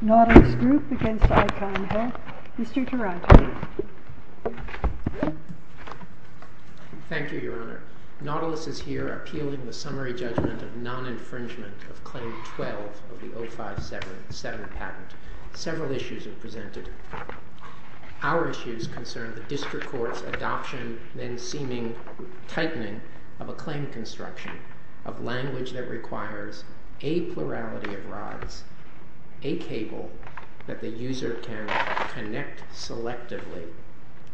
Nautilus Group v. Icon Health Mr. Tarantino Thank you, Your Honor. Nautilus is here appealing the summary judgment of non-infringement of Claim 12 of the 0577 patent. Several issues are presented. Our issues concern the District Court's adoption, then seeming tightening, of a claim construction of language that requires a plurality of rods, a cable that the user can connect selectively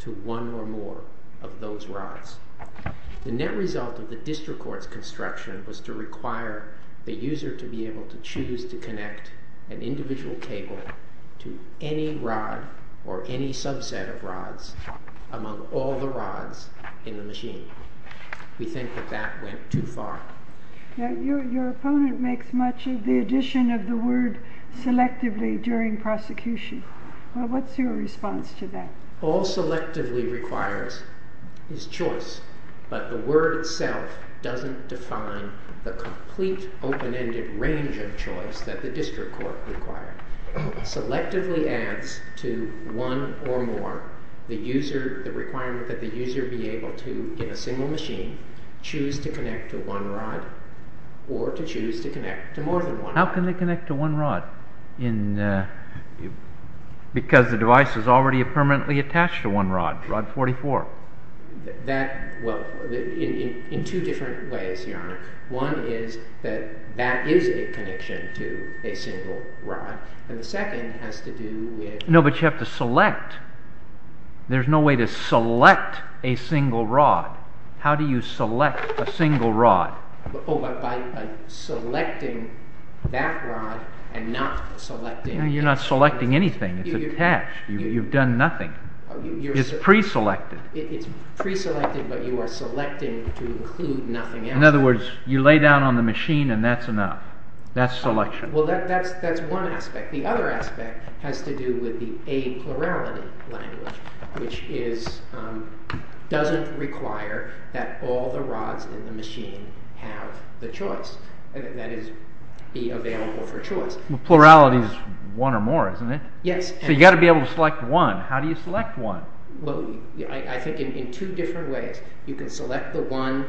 to one or more of those rods. The net result of the District Court's construction was to require the user to be able to choose to connect an individual cable to any rod or any subset of rods among all the rods in the machine. We think that that went too far. Your opponent makes much of the addition of the word selectively during prosecution. What's your response to that? All selectively requires is choice, but the word itself doesn't define the complete open-ended range of choice that the District Court required. Selectively adds to one or more the requirement that the user be able to, in a single machine, choose to connect to one rod or to choose to connect to more than one rod. How can they connect to one rod? Because the device is already permanently attached to one rod, Rod 44. In two different ways, Your Honor. One is that that is a connection to a single rod, and the second has to do with... No, but you have to select. There's no way to select a single rod. How do you select a single rod? By selecting that rod and not selecting... You're not selecting anything. It's attached. You've done nothing. It's pre-selected. It's pre-selected, but you are selecting to include nothing else. In other words, you lay down on the machine and that's enough. That's selection. Well, that's one aspect. The other aspect has to do with the a-plurality language, which doesn't require that all the rods in the machine have the choice. That is, be available for choice. Plurality is one or more, isn't it? Yes. So you've got to be able to select one. How do you select one? I think in two different ways. You can select the one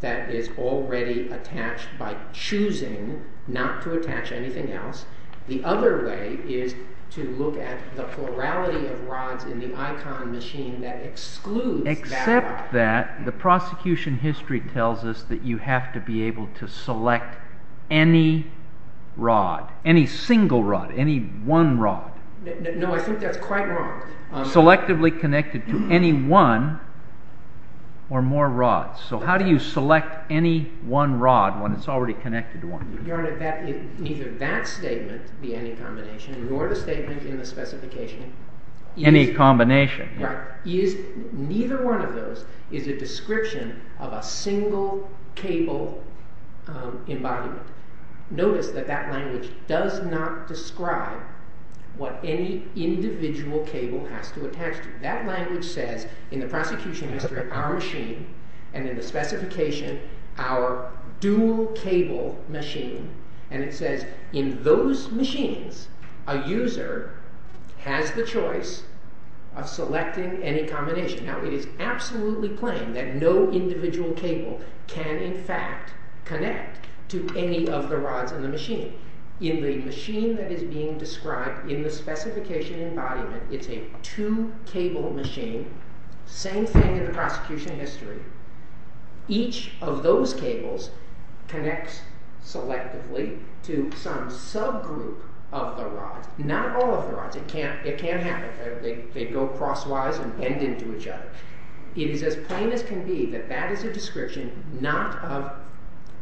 that is already attached by choosing not to attach anything else. The other way is to look at the plurality of rods in the ICON machine that excludes that rod. Except that the prosecution history tells us that you have to be able to select any rod, any single rod, any one rod. No, I think that's quite wrong. Selectively connected to any one or more rods. So how do you select any one rod when it's already connected to one? Your Honor, neither that statement, the any combination, nor the statement in the specification… Any combination. Right. Neither one of those is a description of a single cable embodiment. Notice that that language does not describe what any individual cable has to attach to. That language says in the prosecution history, our machine, and in the specification, our dual cable machine. And it says in those machines, a user has the choice of selecting any combination. Now it is absolutely plain that no individual cable can in fact connect to any of the rods in the machine. In the machine that is being described in the specification embodiment, it's a two cable machine. Same thing in the prosecution history. Each of those cables connects selectively to some subgroup of the rods. Not all of the rods. It can't happen. They go crosswise and bend into each other. It is as plain as can be that that is a description not of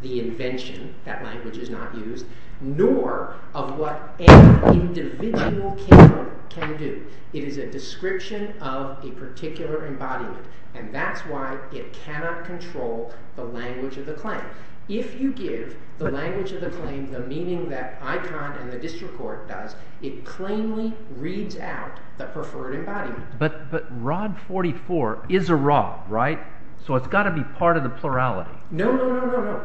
the invention, that language is not used, nor of what any individual cable can do. It is a description of a particular embodiment, and that's why it cannot control the language of the claim. If you give the language of the claim the meaning that ICON and the district court does, it plainly reads out the preferred embodiment. But Rod 44 is a rod, right? So it's got to be part of the plurality. No, no, no.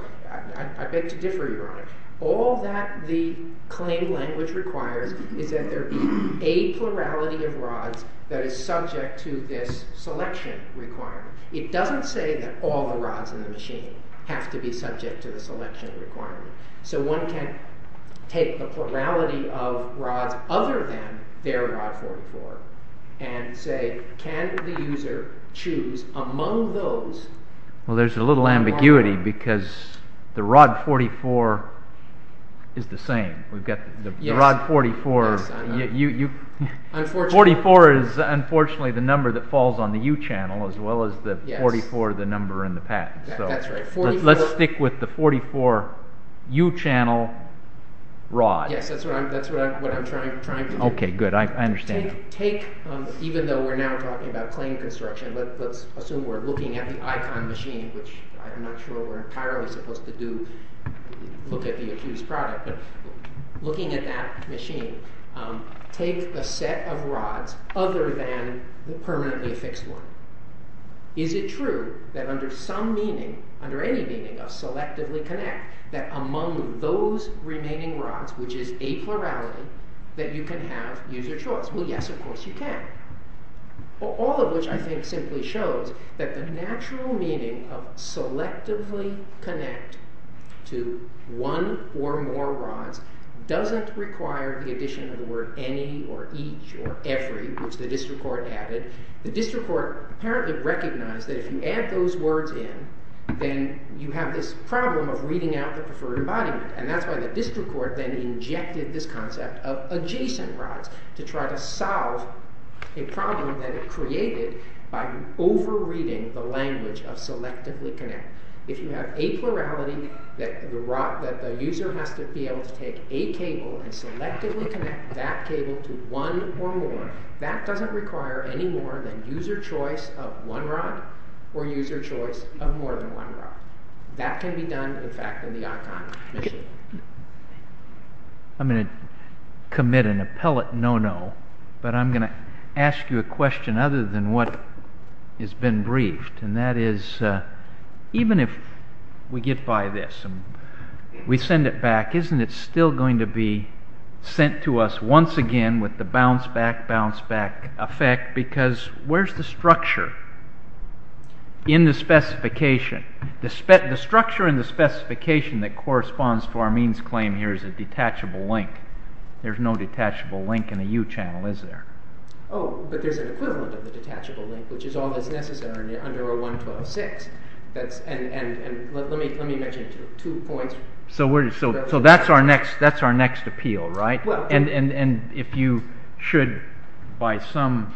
I beg to differ, Your Honor. All that the claim language requires is that there be a plurality of rods that is subject to this selection requirement. It doesn't say that all the rods in the machine have to be subject to the selection requirement. So one can take the plurality of rods other than their Rod 44 and say, can the user choose among those? Well, there's a little ambiguity because the Rod 44 is the same. We've got the Rod 44. 44 is unfortunately the number that falls on the U-channel as well as the 44, the number in the patent. Let's stick with the 44 U-channel rod. Yes, that's what I'm trying to do. Okay, good. I understand. Even though we're now talking about claim construction, let's assume we're looking at the ICON machine, which I'm not sure we're entirely supposed to do, look at the accused product, but looking at that machine, take the set of rods other than the permanently fixed one. Is it true that under some meaning, under any meaning of selectively connect, that among those remaining rods, which is a plurality, that you can have user choice? Well, yes, of course you can. All of which I think simply shows that the natural meaning of selectively connect to one or more rods doesn't require the addition of the word any or each or every, which the district court added. The district court apparently recognized that if you add those words in, then you have this problem of reading out the preferred embodiment. And that's why the district court then injected this concept of adjacent rods to try to solve a problem that it created by over-reading the language of selectively connect. If you have a plurality that the user has to be able to take a cable and selectively connect that cable to one or more, that doesn't require any more than user choice of one rod or user choice of more than one rod. That can be done, in fact, in the Archon machine. I'm going to commit an appellate no-no, but I'm going to ask you a question other than what has been briefed. And that is, even if we get by this and we send it back, isn't it still going to be sent to us once again with the bounce-back, bounce-back effect? Because where's the structure in the specification? The structure in the specification that corresponds to our means claim here is a detachable link. There's no detachable link in a U-channel, is there? Oh, but there's an equivalent of a detachable link, which is always necessary under a 112.6. And let me mention two points. So that's our next appeal, right? And if you should, by some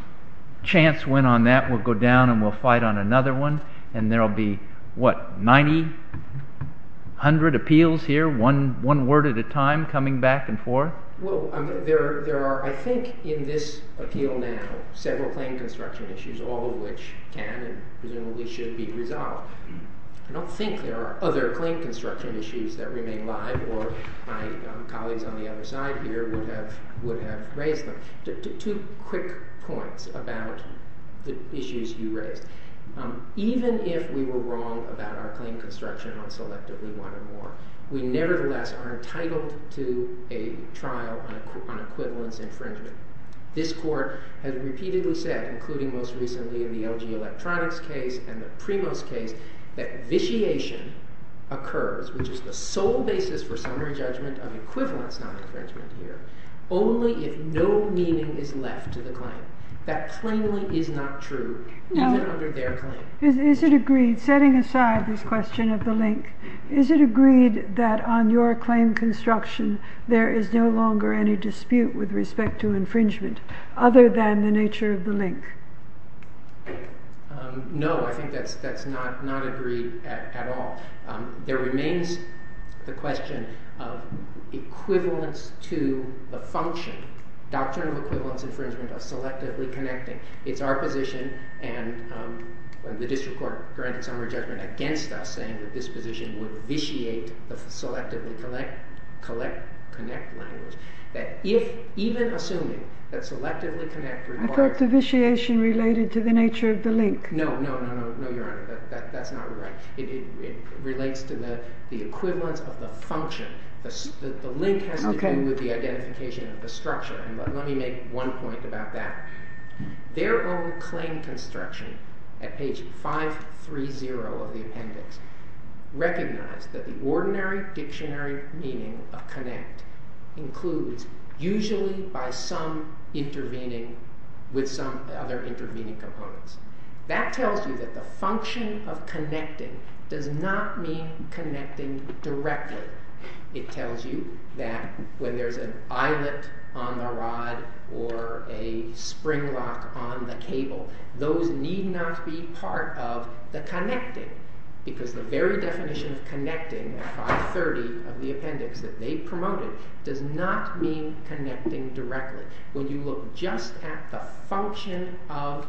chance, win on that, we'll go down and we'll fight on another one, and there will be, what, 90, 100 appeals here, one word at a time, coming back and forth? Well, there are, I think, in this appeal now, several claim construction issues, all of which can and presumably should be resolved. I don't think there are other claim construction issues that remain alive, or my colleagues on the other side here would have raised them. Two quick points about the issues you raised. Even if we were wrong about our claim construction on Selectively One and More, we nevertheless are entitled to a trial on equivalence infringement. This Court has repeatedly said, including most recently in the LG Electronics case and the Primos case, that vitiation occurs, which is the sole basis for summary judgment of equivalence non-infringement here, only if no meaning is left to the claim. That plainly is not true, even under their claim. Is it agreed, setting aside this question of the link, is it agreed that on your claim construction there is no longer any dispute with respect to infringement, other than the nature of the link? No, I think that's not agreed at all. There remains the question of equivalence to the function, doctrinal equivalence infringement of selectively connecting. It's our position, and the district court granted summary judgment against us, saying that this position would vitiate the selectively connect language. Even assuming that selectively connect requires... I thought vitiation related to the nature of the link. No, no, no, no, your honor, that's not right. It relates to the equivalence of the function. The link has to do with the identification of the structure, and let me make one point about that. Their own claim construction, at page 530 of the appendix, recognized that the ordinary dictionary meaning of connect includes usually by some intervening, with some other intervening components. That tells you that the function of connecting does not mean connecting directly. It tells you that when there's an eyelet on the rod or a spring lock on the cable, those need not be part of the connecting because the very definition of connecting at 530 of the appendix that they promoted does not mean connecting directly. When you look just at the function of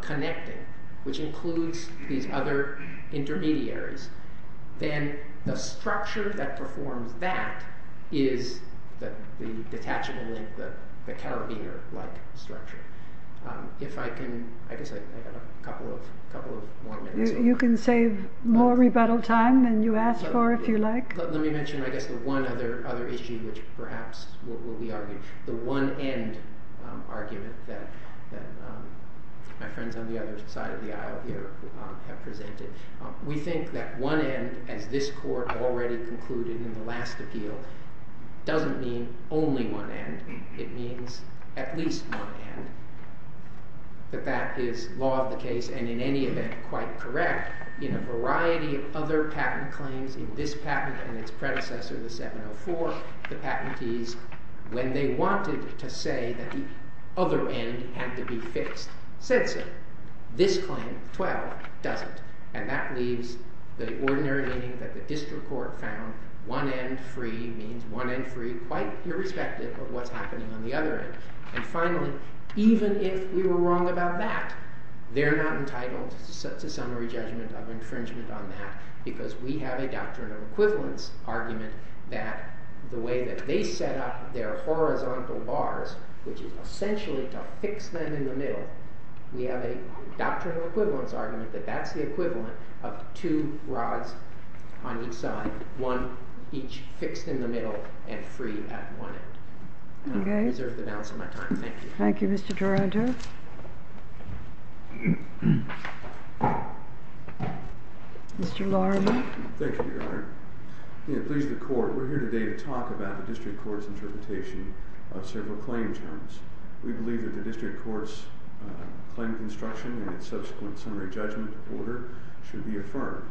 connecting, which includes these other intermediaries, then the structure that performs that is the detachable link, the carabiner-like structure. If I can, I guess I have a couple of more minutes. You can save more rebuttal time than you asked for, if you like. Let me mention, I guess, the one other issue which perhaps will be argued, the one end argument that my friends on the other side of the aisle here have presented. We think that one end, as this court already concluded in the last appeal, doesn't mean only one end. It means at least one end. But that is law of the case and, in any event, quite correct. In a variety of other patent claims, in this patent and its predecessor, the 704, the patentees, when they wanted to say that the other end had to be fixed, said so. This claim, 12, doesn't. And that leaves the ordinary meaning that the district court found. One end free means one end free, quite irrespective of what's happening on the other end. And finally, even if we were wrong about that, they're not entitled to summary judgment of infringement on that because we have a doctrinal equivalence argument that the way that they set up their horizontal bars, which is essentially to fix them in the middle, we have a doctrinal equivalence argument that that's the equivalent of two rods on each side, one each fixed in the middle and free at one end. I'm going to reserve the balance of my time. Thank you. Thank you, Mr. Taranto. Mr. Laramy. Thank you, Your Honor. Please, the court. We're here today to talk about the district court's interpretation of several claim terms. We believe that the district court's claim of instruction and its subsequent summary judgment order should be affirmed,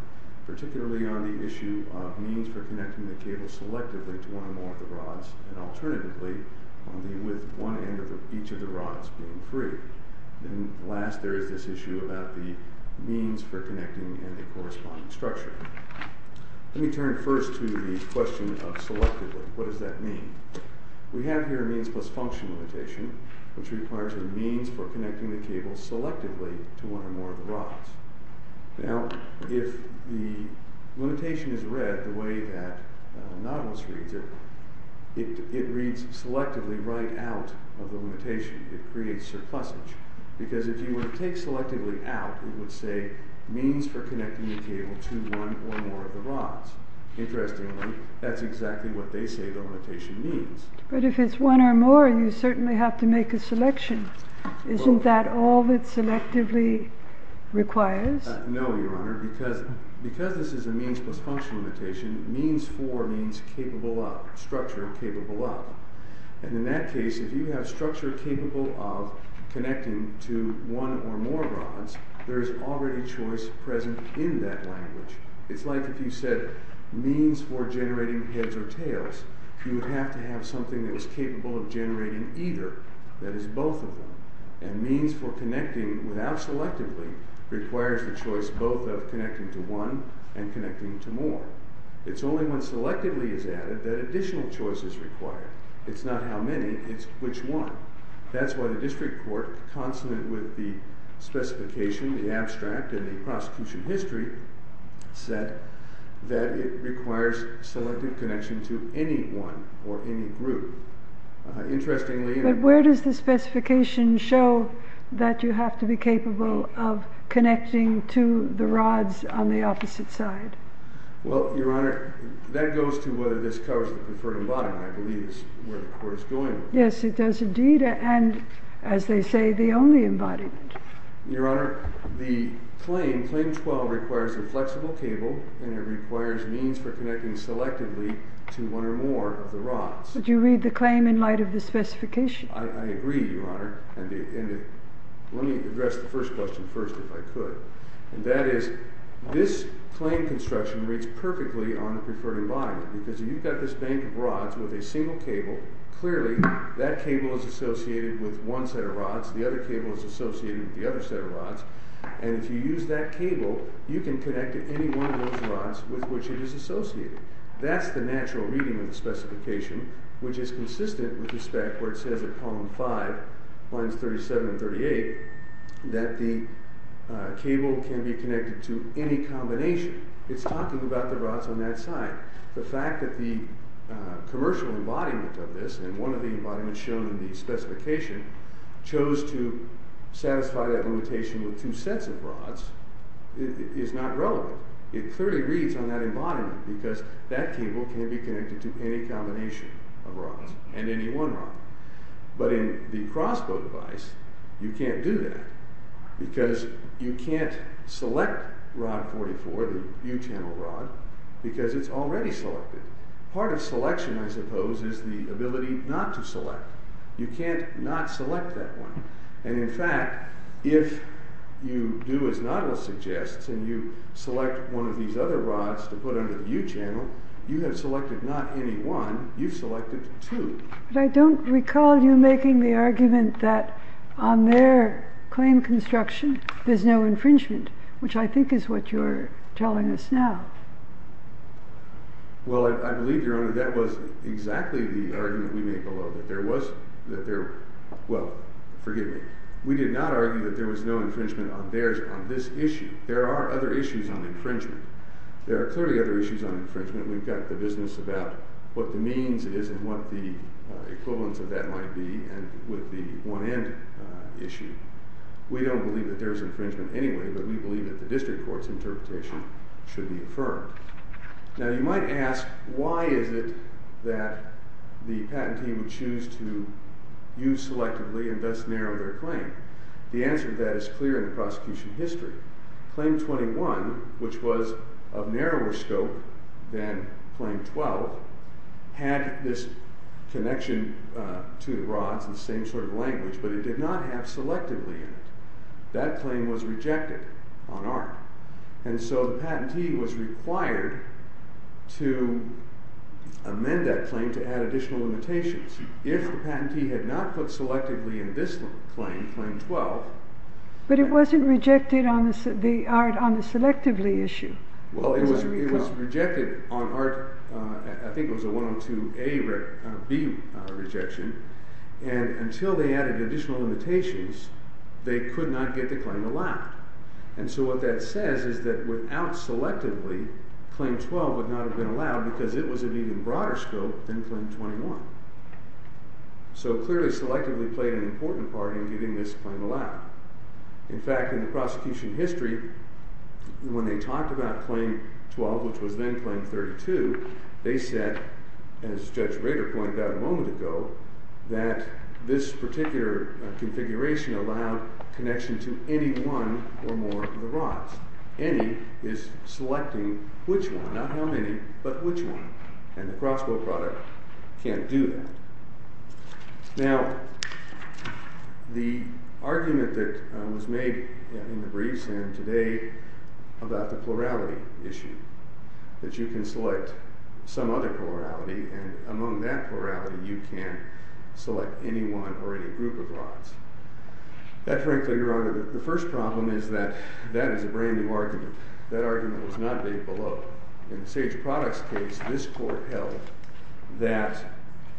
particularly on the issue of means for connecting the cable selectively to one or more of the rods, and alternatively, on the one end of each of the rods being free. And last, there is this issue about the means for connecting and the corresponding structure. Let me turn first to the question of selectively. What does that mean? We have here a means plus function limitation, which requires a means for connecting the cable selectively to one or more of the rods. Now, if the limitation is read the way that Nautilus reads it, it reads selectively right out of the limitation. It creates surplusage. Because if you were to take selectively out, that's exactly what they say the limitation means. But if it's one or more, you certainly have to make a selection. Isn't that all that selectively requires? No, Your Honor. Because this is a means plus function limitation, means for means capable of, structure capable of. And in that case, if you have structure capable of connecting to one or more rods, there is already choice present in that language. It's like if you said means for generating heads or tails. You would have to have something that was capable of generating either, that is, both of them. And means for connecting without selectively requires the choice both of connecting to one and connecting to more. It's only when selectively is added that additional choice is required. It's not how many, it's which one. That's why the district court, consonant with the specification, the abstract, in the prosecution history set, that it requires selective connection to any one or any group. Interestingly, But where does the specification show that you have to be capable of connecting to the rods on the opposite side? Well, Your Honor, that goes to whether this covers the preferred embodiment. I believe that's where the court is going with this. Yes, it does indeed. And as they say, the only embodiment. Your Honor, the claim, Claim 12, requires a flexible cable and it requires means for connecting selectively to one or more of the rods. Would you read the claim in light of the specification? I agree, Your Honor. And let me address the first question first, if I could. And that is, this claim construction reads perfectly on the preferred embodiment because you've got this bank of rods with a single cable. Clearly, that cable is associated with one set of rods. The other cable is associated with the other set of rods. And if you use that cable, you can connect to any one of those rods with which it is associated. That's the natural reading of the specification, which is consistent with the spec where it says at column 5, lines 37 and 38, that the cable can be connected to any combination. It's talking about the rods on that side. The fact that the commercial embodiment of this, and one of the embodiments shown in the specification, chose to satisfy that limitation with two sets of rods is not relevant. It clearly reads on that embodiment because that cable can be connected to any combination of rods and any one rod. But in the crossbow device, you can't do that because you can't select rod 44, the U-channel rod, because it's already selected. Part of selection, I suppose, is the ability not to select. You can't not select that one. And in fact, if you do as Nottle suggests, and you select one of these other rods to put under the U-channel, you have selected not any one, you've selected two. But I don't recall you making the argument that on their claim construction, there's no infringement, which I think is what you're telling us now. Well, I believe, Your Honor, that was exactly the argument we made below, that there was, that there, well, forgive me. We did not argue that there was no infringement on theirs on this issue. There are other issues on infringement. There are clearly other issues on infringement. We've got the business about what the means is and what the equivalence of that might be, and with the one-end issue. We don't believe that there's infringement anyway, but we believe that the district court's interpretation should be affirmed. Now, you might ask, why is it that the patentee would choose to use selectively and thus narrow their claim? The answer to that is clear in the prosecution history. Claim 21, which was of narrower scope than Claim 12, had this connection to the rods and the same sort of language, but it did not have selectively in it. That claim was rejected on our end. And so the patentee was required to amend that claim to add additional limitations. If the patentee had not put selectively in this claim, Claim 12... But it wasn't rejected on the selectively issue. Well, it was rejected on our, I think it was a 102A, B rejection, and until they added additional limitations, they could not get the claim allowed. And so what that says is that without selectively, Claim 12 would not have been allowed because it was of even broader scope than Claim 21. So clearly selectively played an important part in getting this claim allowed. In fact, in the prosecution history, when they talked about Claim 12, which was then Claim 32, they said, as Judge Rader pointed out a moment ago, that this particular configuration allowed connection to any one or more of the rods. Any is selecting which one, not how many, but which one. And the crossbow product can't do that. Now, the argument that was made in the briefs and today about the plurality issue, that you can select some other plurality, and among that plurality you can select any one or any group of rods. That, frankly, Your Honor, the first problem is that that is a brand new argument. That argument was not laid below. In the Sage Products case, this court held that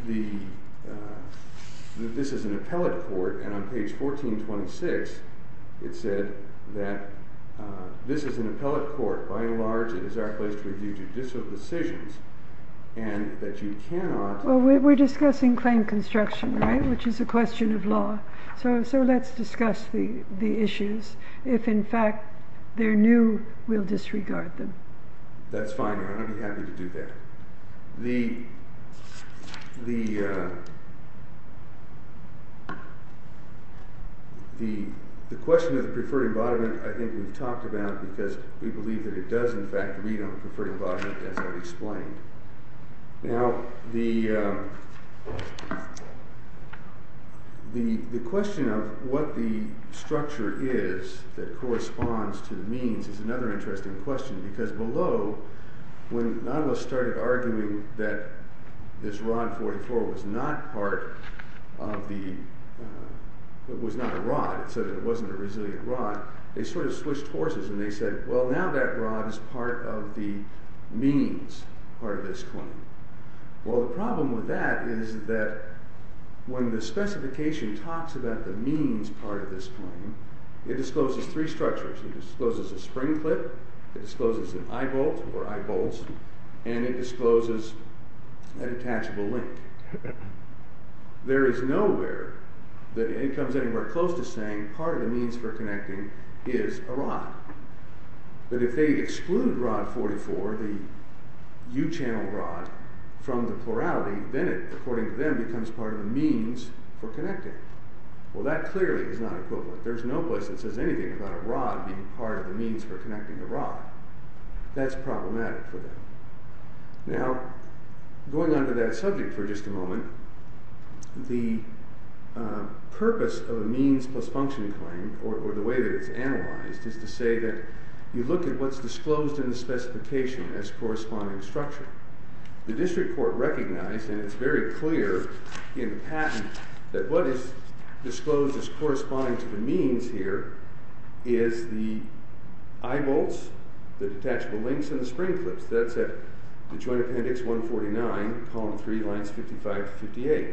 this is an appellate court, and on page 1426 it said that this is an appellate court. By and large, it is our place to review judicial decisions, and that you cannot... Well, we're discussing claim construction, right, which is a question of law. So let's discuss the issues. If, in fact, they're new, we'll disregard them. That's fine, Your Honor. I'd be happy to do that. The question of the preferred embodiment, I think we've talked about, because we believe that it does, in fact, read on the preferred embodiment, as I've explained. Now, the question of what the structure is that corresponds to the means is another interesting question, because below, when Nautilus started arguing that this rod 44 was not a rod, it said that it wasn't a resilient rod, they sort of switched horses, and they said, well, now that rod is part of the means part of this claim. Well, the problem with that is that when the specification talks about the means part of this claim, it discloses three structures. It discloses a spring clip, it discloses an eye bolt or eye bolts, and it discloses an attachable link. There is nowhere that it comes anywhere close to saying that part of the means for connecting is a rod. But if they exclude rod 44, the U-channel rod, from the plurality, then it, according to them, becomes part of the means for connecting. Well, that clearly is not equivalent. There is no place that says anything about a rod being part of the means for connecting a rod. That's problematic for them. Now, going on to that subject for just a moment, the purpose of a means plus function claim, or the way that it's analyzed, is to say that you look at what's disclosed in the specification as corresponding structure. The district court recognized, and it's very clear in the patent, that what is disclosed as corresponding to the means here is the eye bolts, the detachable links, and the spring clips. That's at the Joint Appendix 149, column 3, lines 55 to 58.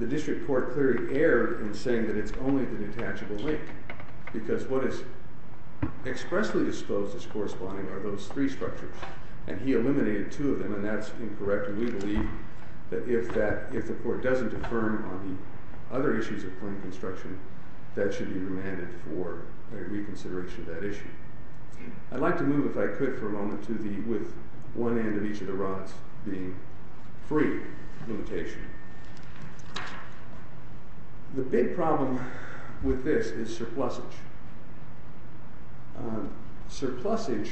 The district court clearly erred in saying that it's only the detachable link, because what is expressly disclosed as corresponding are those three structures. And he eliminated two of them, and that's incorrect. And we believe that if the court doesn't affirm on the other issues of point construction, that should be remanded for reconsideration of that issue. I'd like to move, if I could for a moment, with one end of each of the rods being free limitation. The big problem with this is surplusage. Surplusage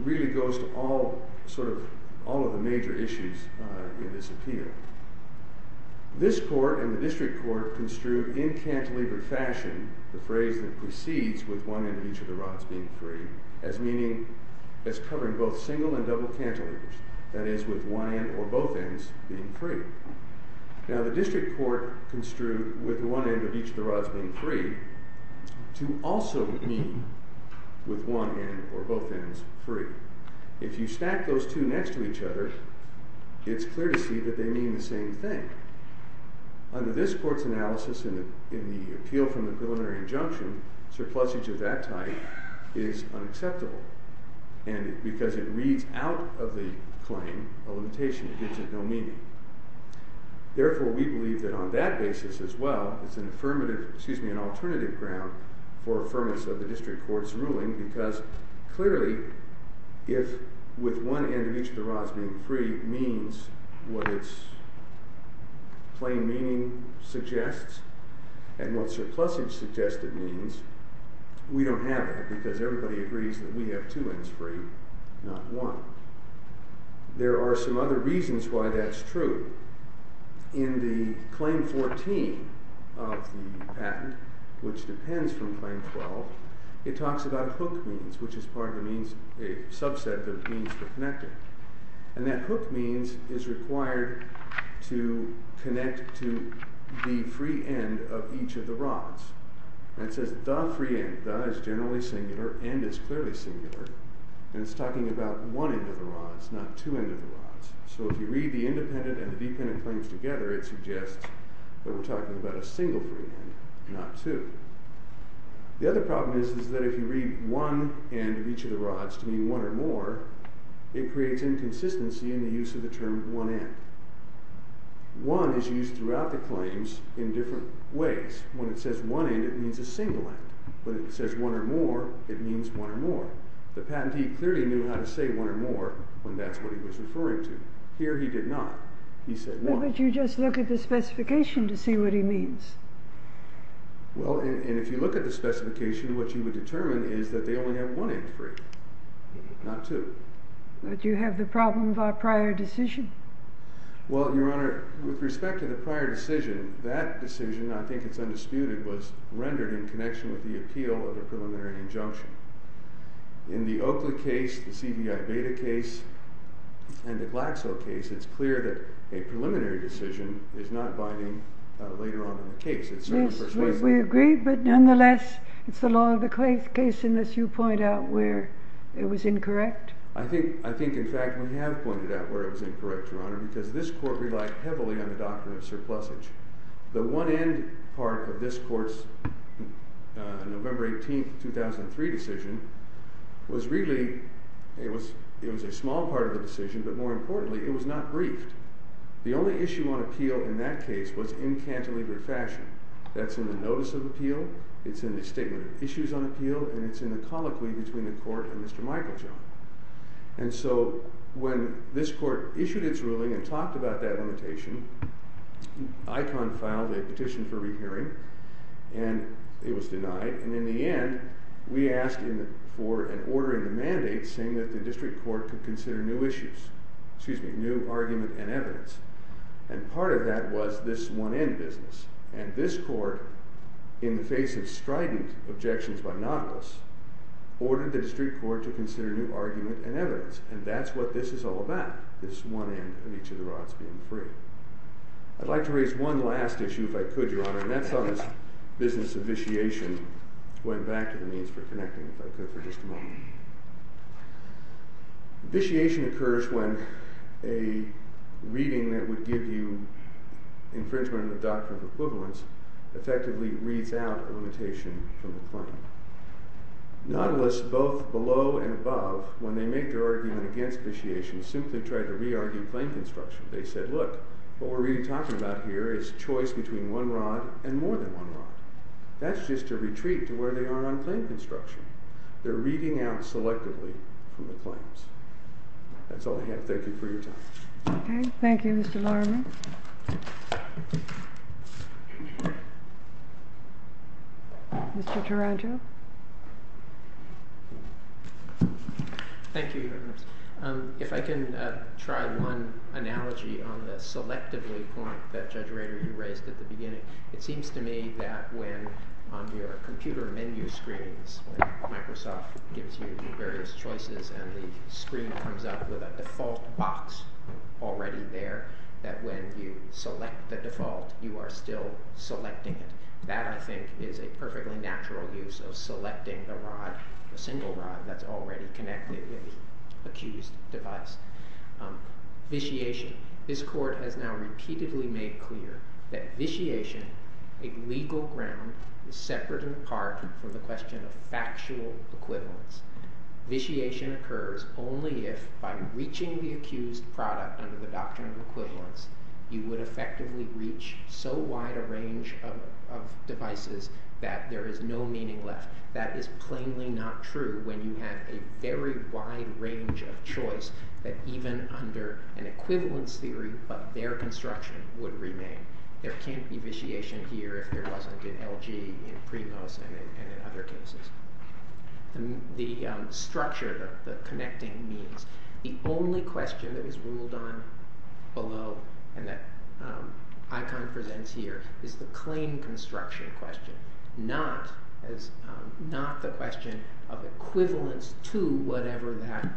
really goes to all of the major issues in this appeal. This court and the district court construed in cantilever fashion the phrase that proceeds with one end of each of the rods being free as covering both single and double cantilevers, that is, with one end or both ends being free. Now, the district court construed with one end of each of the rods being free to also mean with one end or both ends free. If you stack those two next to each other, it's clear to see that they mean the same thing. Under this court's analysis in the appeal from the preliminary injunction, surplusage of that type is unacceptable because it reads out of the claim a limitation. It gives it no meaning. Therefore, we believe that on that basis as well, it's an alternative ground for affirmance of the district court's ruling because clearly, if with one end of each of the rods being free means what its plain meaning suggests and what surplusage suggested means, we don't have it because everybody agrees that we have two ends free, not one. There are some other reasons why that's true. In the Claim 14 of the patent, which depends from Claim 12, it talks about hook means, which is part of the subset of the means for connecting. That hook means is required to connect to the free end of each of the rods. It says the free end. The is generally singular. End is clearly singular. It's talking about one end of the rods, not two ends of the rods. If you read the independent and the dependent claims together, it suggests that we're talking about a single free end, not two. The other problem is that if you read one end of each of the rods to mean one or more, it creates inconsistency in the use of the term one end. One is used throughout the claims in different ways. When it says one end, it means a single end. When it says one or more, it means one or more. The patentee clearly knew how to say one or more when that's what he was referring to. Here he did not. He said one. But you just look at the specification to see what he means. Well, and if you look at the specification, what you would determine is that they only have one end free, not two. But you have the problem of our prior decision. Well, Your Honor, with respect to the prior decision, that decision, I think it's undisputed, was rendered in connection with the appeal of the preliminary injunction. In the Oakley case, the CBI-Beta case, and the Glaxo case, it's clear that a preliminary decision is not binding later on in the case. Yes, we agree. But nonetheless, it's the law of the case, unless you point out where it was incorrect. I think, in fact, we have pointed out where it was incorrect, Your Honor, because this court relied heavily on the doctrine of surplusage. The one end part of this court's November 18, 2003 decision was really, it was a small part of the decision, but more importantly, it was not briefed. The only issue on appeal in that case was in cantilevered fashion. That's in the notice of appeal, it's in the statement of issues on appeal, and it's in the colloquy between the court and Mr. Michael Jones. And so when this court issued its ruling and talked about that limitation, ICON filed a petition for rehearing, and it was denied. And in the end, we asked for an order in the mandate saying that the district court could consider new issues, excuse me, new argument and evidence. And part of that was this one-end business. And this court, in the face of strident objections by notables, ordered the district court to consider new argument and evidence. And that's what this is all about, this one end of each of the rods being free. I'd like to raise one last issue, if I could, Your Honor, and that's on this business of vitiation. Going back to the means for connecting, if I could, for just a moment. Vitiation occurs when a reading that would give you infringement of the doctrine of equivalence effectively reads out a limitation from the claim. Nautilus, both below and above, when they make their argument against vitiation, simply tried to re-argue claim construction. They said, look, what we're really talking about here is choice between one rod and more than one rod. That's just a retreat to where they are on claim construction. They're reading out selectively from the claims. That's all I have. Thank you for your time. Okay. Thank you, Mr. Lorimer. Mr. Taranto? Thank you, Your Honor. If I can try one analogy on the selectively point that Judge Rader, you raised at the beginning. It seems to me that when, on your computer menu screens, Microsoft gives you various choices and the screen comes up with a default box already there, that when you select the default, you are still selecting it. That, I think, is a perfectly natural use of selecting a rod, a single rod, that's already connected with the accused device. Vitiation. This Court has now repeatedly made clear that vitiation, a legal ground, is separate in part from the question of factual equivalence. Vitiation occurs only if, by reaching the accused product under the doctrine of equivalence, you would effectively reach so wide a range of devices that there is no meaning left. That is plainly not true when you have a very wide range of choice that even under an equivalence theory, but their construction would remain. There can't be vitiation here if there wasn't in LG, in Primos, and in other cases. The structure, the connecting means. The only question that is ruled on below, and that Icon presents here, is the claim construction question, not the question of equivalence to whatever that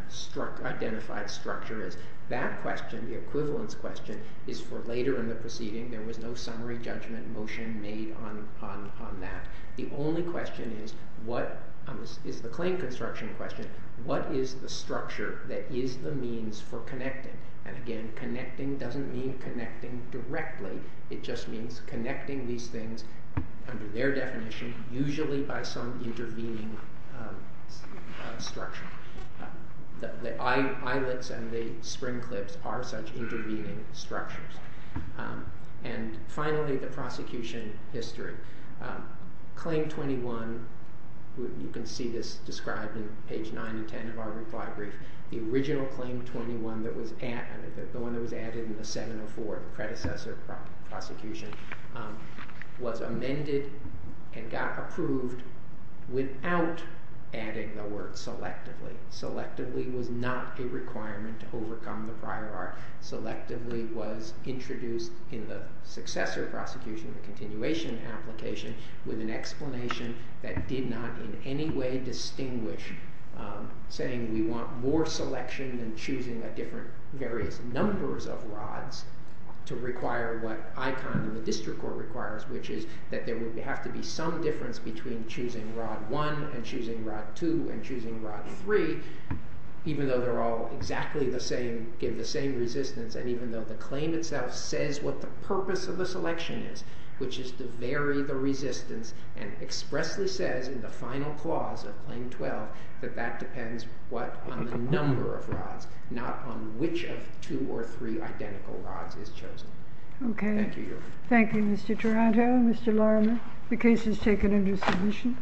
identified structure is. That question, the equivalence question, is for later in the proceeding. There was no summary judgment motion made on that. The only question is the claim construction question. What is the structure that is the means for connecting? And again, connecting doesn't mean connecting directly. It just means connecting these things under their definition, usually by some intervening structure. The eyelets and the spring clips are such intervening structures. And finally, the prosecution history. Claim 21, you can see this described in page 9 and 10 of our reply brief. The original claim 21 that was added, the one that was added in the 704, the predecessor prosecution, was amended and got approved without adding the word selectively. Selectively was not a requirement to overcome the prior art. Selectively was introduced in the successor prosecution, the continuation application, with an explanation that did not in any way distinguish saying we want more selection than choosing the different various numbers of rods to require what Icon and the district court requires, which is that there would have to be some difference between choosing rod 1 and choosing rod 2 and choosing rod 3, even though they're all exactly the same, give the same resistance, and even though the claim itself says what the purpose of the selection is, which is to vary the resistance and expressly says in the final clause of claim 12 that that depends what on the number of rods, not on which of two or three identical rods is chosen. Thank you, Your Honor. Thank you, Mr. Taranto. Thank you, Mr. Larimer. The case is taken into submission.